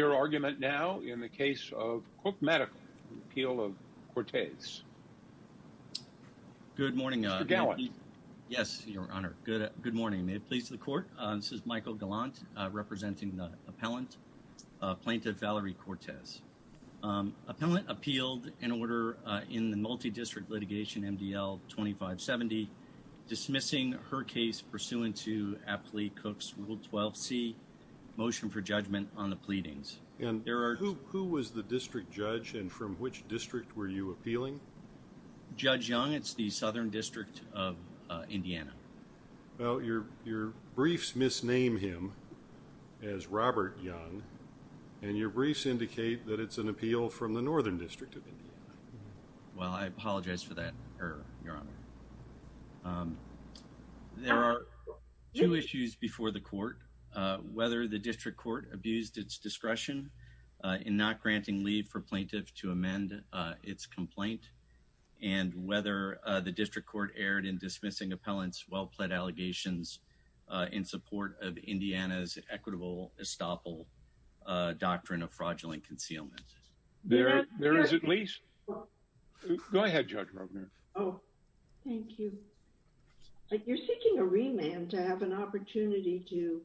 Your argument now in the case of Cook Medical, the appeal of Cortez. Good morning. Mr. Gallant. Yes, your honor. Good morning. May it please the court. This is Michael Gallant representing the appellant, Plaintiff Valerie Cortez. Appellant appealed in order in the multi-district litigation MDL 2570 dismissing her case pursuant to Aptly Cook's Rule 12c motion for judgment on the pleadings. Who was the district judge and from which district were you appealing? Judge Young. It's the Southern District of Indiana. Your briefs misname him as Robert Young and your briefs indicate that it's an appeal from the Northern District of Indiana. Well I apologize for that error, your honor. There are two issues before the court. Whether the district court abused its discretion in not granting leave for plaintiff to amend its complaint and whether the district court erred in dismissing appellant's well-pled allegations in support of Indiana's equitable estoppel doctrine of fraudulent concealment. There is at least. Go ahead, Judge Rogner. Thank you. You're seeking a remand to have an opportunity to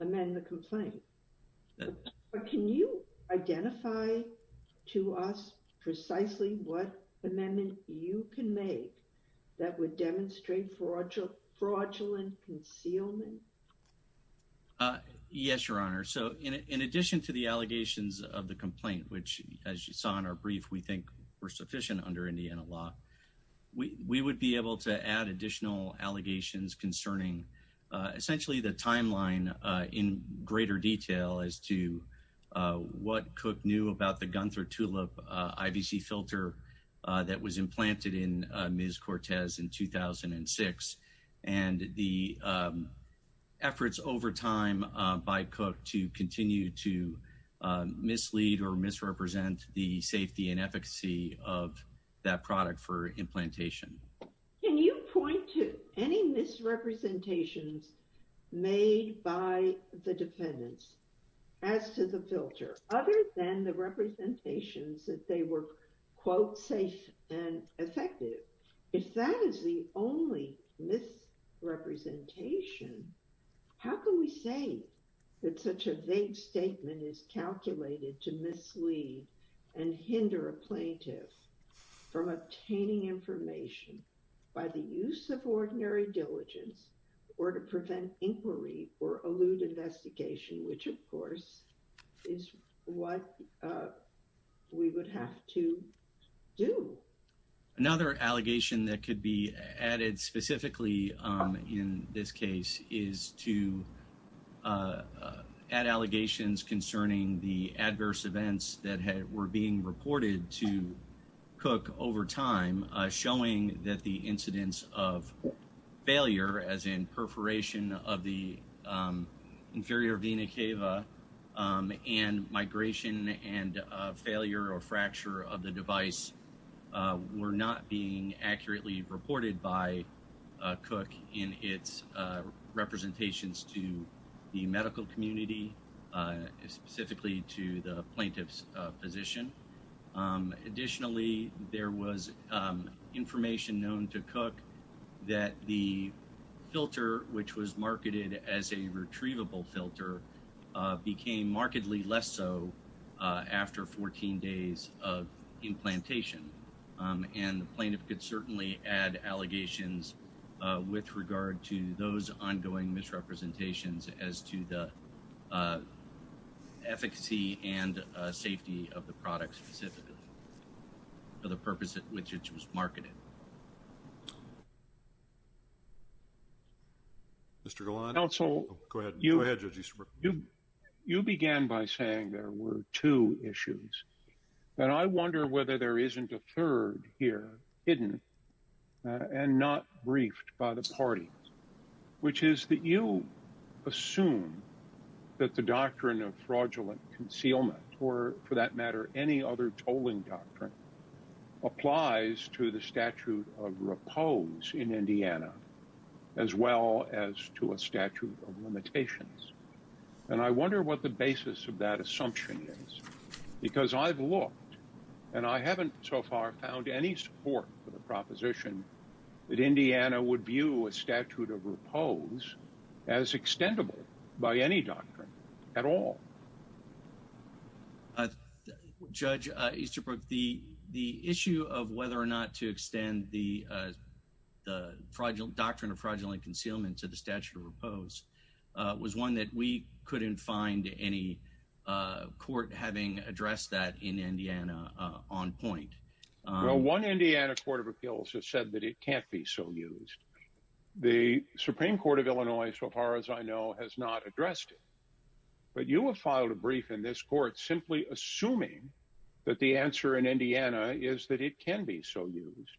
amend the complaint, but can you identify to us precisely what amendment you can make that would demonstrate fraudulent concealment? Yes, your honor. So in addition to the allegations of the complaint, which as you saw in our brief, we think were we would be able to add additional allegations concerning essentially the timeline in greater detail as to what Cook knew about the Gunther Tulip IVC filter that was implanted in Ms. Cortez in 2006 and the efforts over time by Cook to continue to mislead or misrepresent the safety and efficacy of that product for implantation. Can you point to any misrepresentations made by the defendants as to the filter other than the representations that they were, quote, safe and effective? If that is the only misrepresentation, how can we say that such a vague statement is and hinder a plaintiff from obtaining information by the use of ordinary diligence or to prevent inquiry or allude investigation, which of course is what we would have to do. Another allegation that could be added specifically in this case is to add allegations concerning the adverse events that were being reported to Cook over time, showing that the incidence of failure as in perforation of the inferior vena cava and migration and failure or fracture of the device were not being accurately reported by Cook in its representations to the medical community, specifically to the plaintiff's physician. Additionally, there was information known to Cook that the filter, which was marketed as a retrievable filter, became markedly less so after 14 days of implantation. And the plaintiff could certainly add allegations with regard to those ongoing misrepresentations as to the efficacy and safety of the product specifically for the purpose at which it was marketed. Mr. Golan, you began by saying there were two issues. But I wonder whether there isn't a third here hidden and not briefed by the party, which is that you assume that the doctrine of fraudulent concealment or, for that matter, any other tolling doctrine applies to the statute of repose in Indiana as well as to a statute of limitations. And I wonder what the basis of that assumption is, because I've looked and I haven't so far found any support for the proposition that Indiana would view a statute of repose as extendable by any doctrine at all. Judge Easterbrook, the issue of whether or not to extend the doctrine of fraudulent concealment to the statute of repose was one that we couldn't find any court having addressed that in Indiana on point. Well, one Indiana court of appeals has said that it can't be so used. The Supreme Court of Illinois, so far as I know, has not addressed it. But you have filed a brief in this court simply assuming that the answer in Indiana is that it can be so used.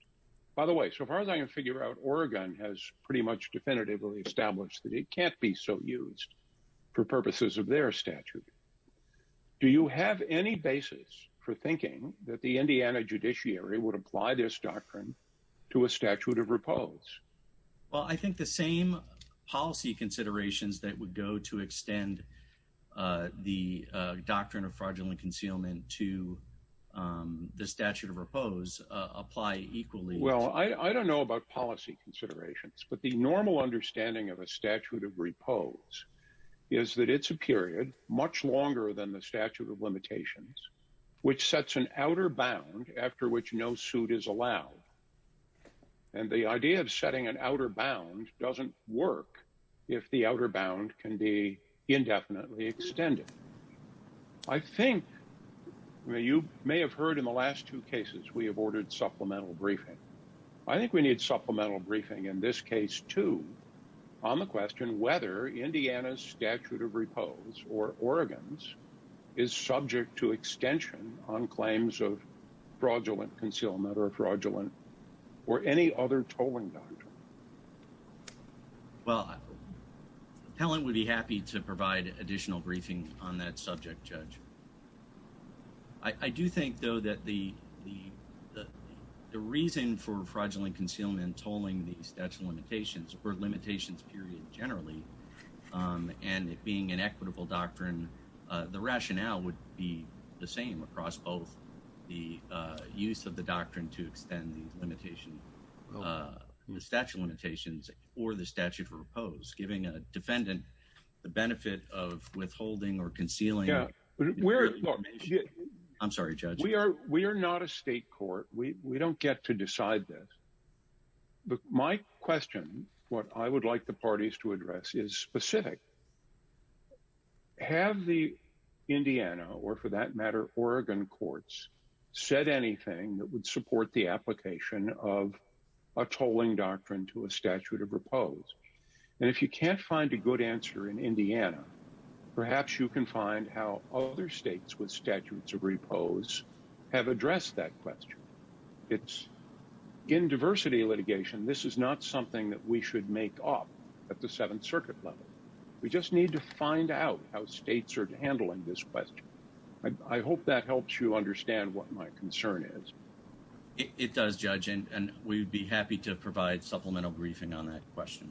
By the way, so far as I can figure out, Oregon has pretty much definitively established that it can't be so used for purposes of their statute. Do you have any basis for thinking that the Indiana judiciary would apply this doctrine to a statute of repose? Well, I think the same policy considerations that would go to extend the doctrine of fraudulent concealment to the statute of repose apply equally. Well, I don't know about policy considerations, but the normal understanding of a statute of repose is that it's much longer than the statute of limitations, which sets an outer bound after which no suit is allowed. And the idea of setting an outer bound doesn't work if the outer bound can be indefinitely extended. I think you may have heard in the last two cases we have ordered supplemental briefing. I think we need supplemental briefing in this case, too, on the question whether Indiana's statute of repose or Oregon's is subject to extension on claims of fraudulent concealment or fraudulent or any other tolling doctrine. Well, the appellant would be happy to provide additional briefing on that subject, Judge. I do think, though, that the reason for fraudulent concealment and tolling the statute of limitations period generally and it being an equitable doctrine, the rationale would be the same across both the use of the doctrine to extend the limitation, the statute of limitations or the statute of repose, giving a defendant the benefit of withholding or concealing. I'm sorry, Judge. We are not a state court. We don't get to decide this. My question, what I would like the parties to address is specific. Have the Indiana or, for that matter, Oregon courts said anything that would support the application of a tolling doctrine to a statute of repose? And if you can't find a good answer in Indiana, perhaps you can find how other states with statutes of repose have addressed that question. It's in diversity litigation. This is not something that we should make up at the Seventh Circuit level. We just need to find out how states are handling this question. I hope that helps you understand what my concern is. It does, Judge, and we'd be happy to provide supplemental briefing on that question.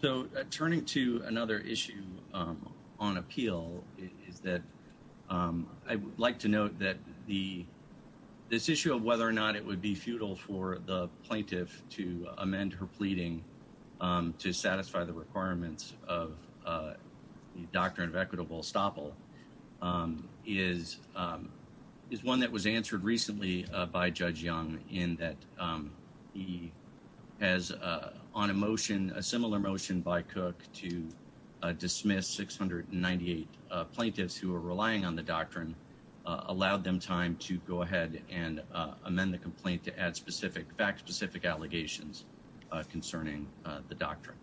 So, turning to another issue on appeal is that I would like to note that this issue of whether or not it would be futile for the plaintiff to amend her pleading to satisfy the requirements of the doctrine of equitable estoppel is one that was answered recently by Judge Young in that he has, on a motion, a similar motion by Cook to dismiss 698 plaintiffs who are relying on the doctrine, allowed them time to go ahead and amend the complaint to add specific, fact-specific allegations concerning the doctrine.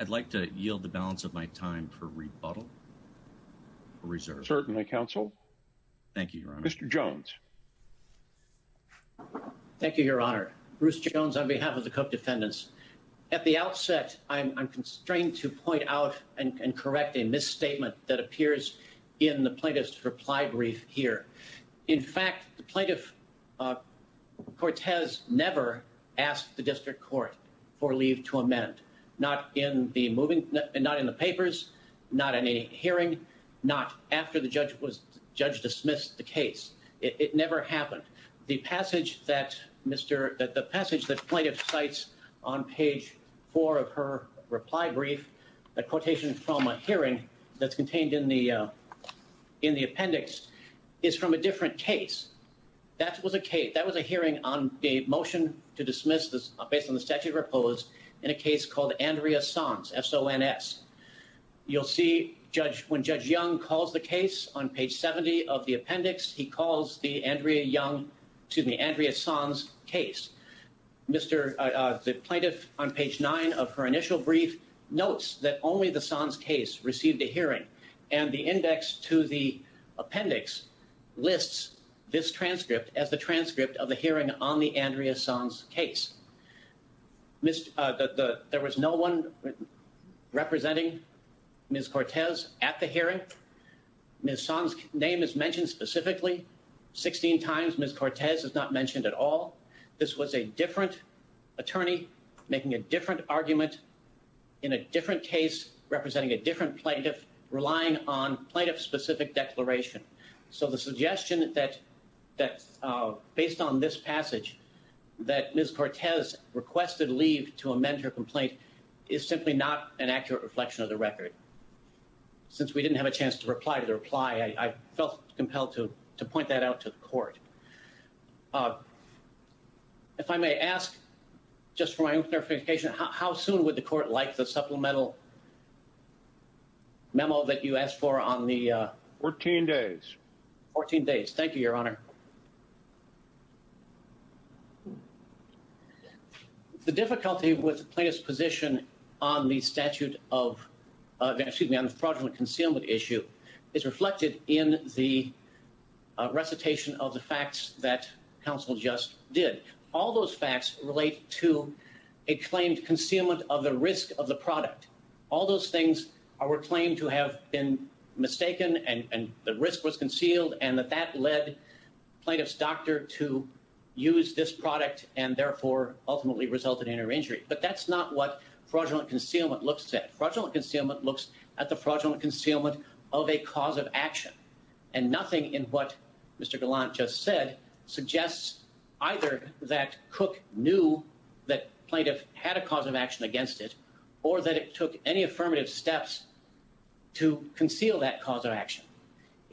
I'd like to yield the balance of my time for rebuttal or reserve. Thank you, Your Honor. Mr. Jones. Thank you, Your Honor. Bruce Jones on behalf of the Cook defendants. At the outset, I'm constrained to point out and correct a misstatement that appears in the plaintiff's reply brief here. In fact, the plaintiff, Cortez, never asked the district court for leave to amend, not in the moving, not in the papers, not in any hearing, not after the judge was, it never happened. The passage that plaintiff cites on page 4 of her reply brief, a quotation from a hearing that's contained in the appendix, is from a different case. That was a hearing on a motion to dismiss, based on the statute of repose, in a case called Andrea Sons, S-O-N-S. You'll see when Judge Young calls the case on page 70 of the appendix, he calls the Andrea Young, excuse me, Andrea Sons case. Mr., the plaintiff, on page 9 of her initial brief, notes that only the Sons case received a hearing, and the index to the appendix lists this transcript as the transcript of the hearing on the Andrea Sons case. There was no one representing Ms. Cortez at the hearing. Ms. Sons' name is mentioned specifically 16 times. Ms. Cortez is not mentioned at all. This was a different attorney making a different argument, in a different case, representing a different plaintiff, relying on plaintiff-specific declaration. So the suggestion that, based on this passage, that Ms. Cortez requested leave to amend her complaint is simply not an accurate reflection of the record. Since we didn't have a chance to reply to the reply, I felt compelled to point that out to the court. If I may ask, just for my own clarification, how soon would the court like the supplemental memo that you asked for on the... 14 days. 14 days. Thank you, Your Honor. The difficulty with the plaintiff's position on the statute of... excuse me, on the fraudulent concealment issue is reflected in the recitation of the facts that counsel just did. All those facts relate to a claimed concealment of the risk of the product. All those things were claimed to have been mistaken, and the risk was concealed, and that that led to the plaintiff's decision plaintiff's doctor to use this product and therefore ultimately resulted in her injury. But that's not what fraudulent concealment looks at. Fraudulent concealment looks at the fraudulent concealment of a cause of action, and nothing in what Mr. Gallant just said suggests either that Cook knew that plaintiff had a cause of action against it, If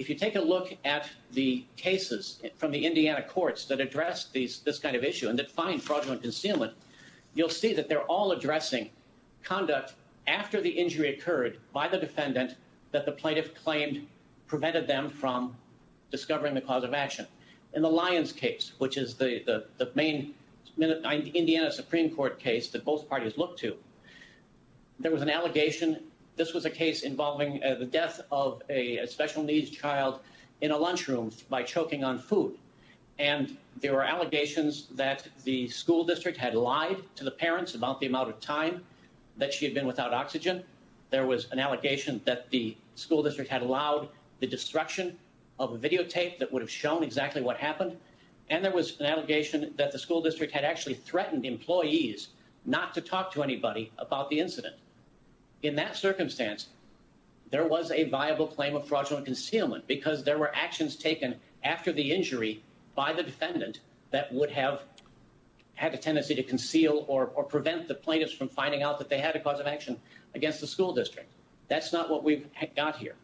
you take a look at the cases from the Indiana courts that address this kind of issue and that find fraudulent concealment, you'll see that they're all addressing conduct after the injury occurred by the defendant that the plaintiff claimed prevented them from discovering the cause of action. In the Lyons case, which is the main Indiana Supreme Court case that both parties looked to, there was an allegation. This was a case involving the death of a special needs child in a lunchroom by choking on food. And there were allegations that the school district had lied to the parents about the amount of time that she had been without oxygen. There was an allegation that the school district had allowed the destruction of a videotape that would have shown exactly what happened. And there was an allegation that the school district had actually threatened employees not to talk to anybody about the incident. In that circumstance, there was a viable claim of fraudulent concealment because there were actions taken after the injury by the defendant that would have had a tendency to conceal or prevent the plaintiffs from finding out that they had a cause of action against the school district. That's not what we've got here.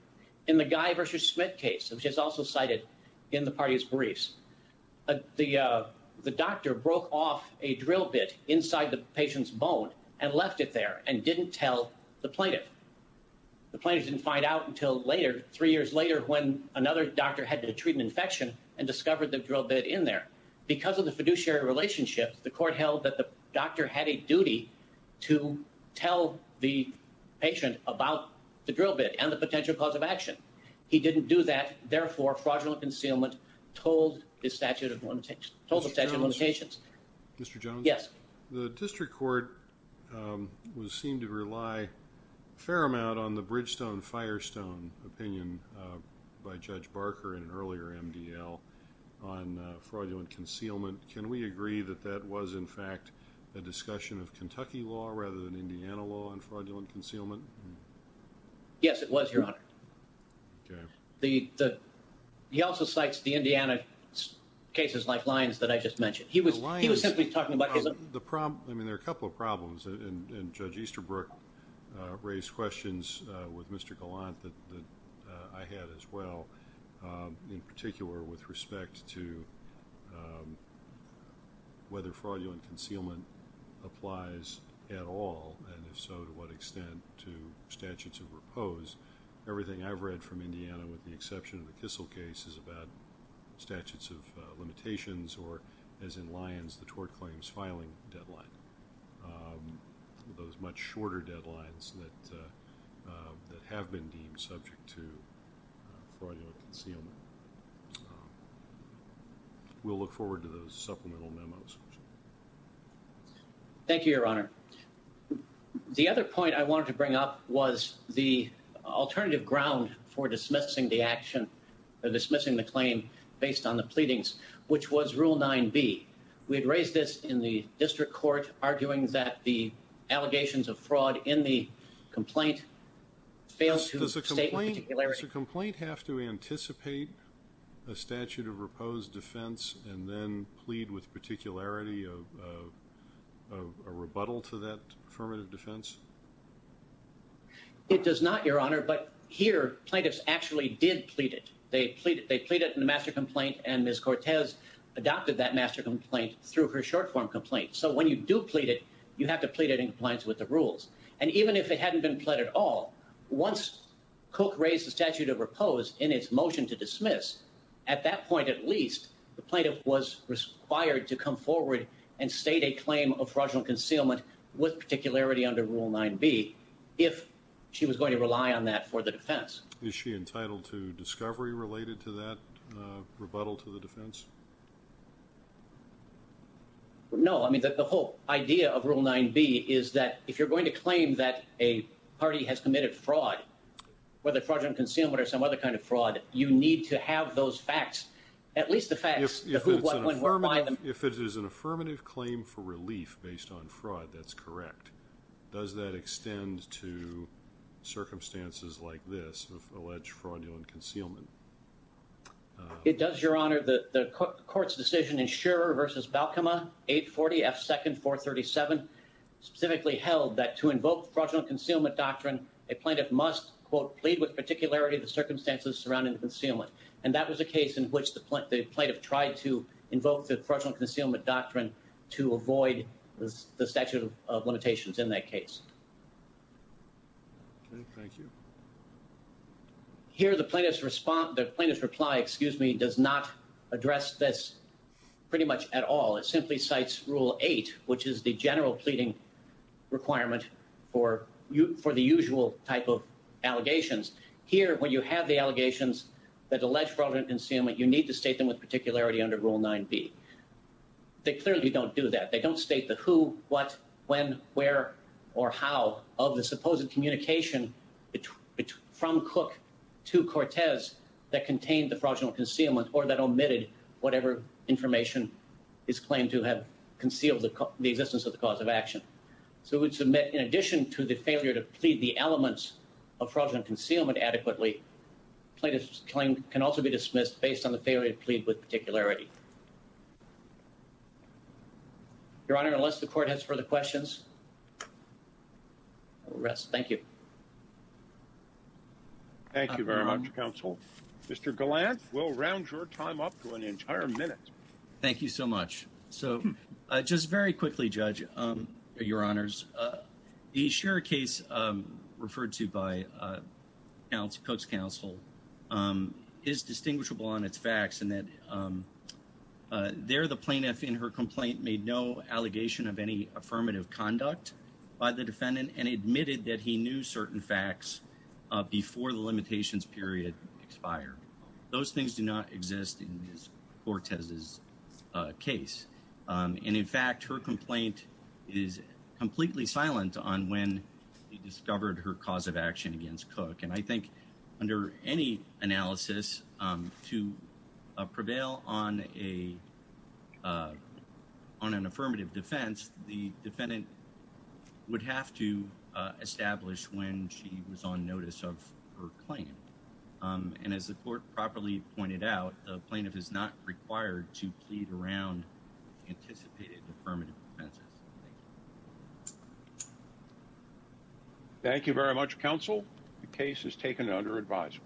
In the Guy v. Schmidt case, which is also cited in the party's briefs, the doctor broke off a drill bit inside the patient's bone and left it there and didn't tell the plaintiff. The plaintiff didn't find out until later, three years later when another doctor had the treatment infection and discovered the drill bit in there. Because of the fiduciary relationships, the court held that the doctor had a duty to tell the patient about the drill bit and the potential cause of action. He didn't do that. Therefore, fraudulent concealment told the statute of limitations. Mr. Jones? Yes. The district court was seen to rely a fair amount on the Bridgestone-Firestone opinion by Judge Barker in an earlier MDL on fraudulent concealment. Can we agree that that was, in fact, a discussion of Kentucky law rather than Indiana law on fraudulent concealment? Yes, it was, Your Honor. He also cites the Indiana cases like Lyons that I just mentioned. He was simply talking about his own... The problem... I mean, there are a couple of problems. And Judge Easterbrook raised questions with Mr. Gallant that I had as well, in particular with respect to whether fraudulent concealment applies at all, and if so, to what extent to statutes of repose. Everything I've read from Indiana, with the exception of the Kissel case, is about statutes of limitations or, as in Lyons, the tort claims filing deadline, those much shorter deadlines that have been deemed subject to fraudulent concealment. We'll look forward to those supplemental memos. Thank you, Your Honor. The other point I wanted to bring up was the alternative ground for dismissing the action, dismissing the claim based on the pleadings, which was Rule 9b. We had raised this in the district court, arguing that the allegations of fraud in the complaint failed to state the particularity... Does a complaint have to anticipate a statute of repose defense and then plead with particularity of a rebuttal to that affirmative defense? It does not, Your Honor. But here, plaintiffs actually did plead it. They plead it in the master complaint, and Ms. Cortez adopted that master complaint through her short-form complaint. So when you do plead it, you have to plead it in compliance with the rules. And even if it hadn't been pled at all, once Cook raised the statute of repose in its motion to dismiss, at that point, at least, the plaintiff was required to come forward and state a claim of fraudulent concealment with particularity under Rule 9b if she was going to rely on that for the defense. Is she entitled to discovery related to that rebuttal to the defense? No. I mean, the whole idea of Rule 9b is that if you're going to claim that a party has committed fraud, whether fraudulent concealment or some other kind of fraud, you need to have those facts, at least the facts... If it is an affirmative claim for relief based on fraud, that's correct. Does that extend to circumstances like this, alleged fraudulent concealment? It does, Your Honor. The court's decision, Insurer v. Balcoma, 840 F. 2nd 437, specifically held that to invoke fraudulent concealment doctrine, a plaintiff must, quote, plead with particularity the circumstances surrounding the concealment. And that was a case in which the plaintiff tried to invoke the fraudulent concealment doctrine to avoid the statute of limitations in that case. Okay. Thank you. Here, the plaintiff's reply, excuse me, does not address this pretty much at all. It simply cites Rule 8, which is the general pleading requirement for the usual type of allegations. Here, when you have the allegations that allege fraudulent concealment, you need to state them with particularity under Rule 9b. They clearly don't do that. They don't state the who, what, when, where, or how of the supposed communication between, from Cook to Cortez that contained the fraudulent concealment or that omitted whatever information is claimed to have concealed the existence of the cause of action. So it would submit, in addition to the failure to plead the elements of fraudulent concealment adequately, plaintiff's claim can also be dismissed based on the failure to plead with particularity. Your Honor, unless the Court has further questions, I will rest. Thank you. Thank you very much, Counsel. Mr. Gallant, we'll round your time up to an entire minute. Thank you so much. So just very quickly, Judge, Your Honors, the Scherer case referred to by Coates' counsel is distinguishable on its facts in that there, the plaintiff in her complaint made no allegation of any affirmative conduct by the defendant and admitted that he knew certain facts before the limitations period expired. Those things do not exist in Cortez' case. And in fact, her complaint is completely silent on when he discovered her cause of action against Cook. And I think under any analysis to prevail on an affirmative defense, the defendant would have to establish when she was on notice of her claim. And as the Court properly pointed out, the plaintiff is not required to plead around anticipated affirmative defenses. Thank you very much, Counsel. The case is taken under advisable.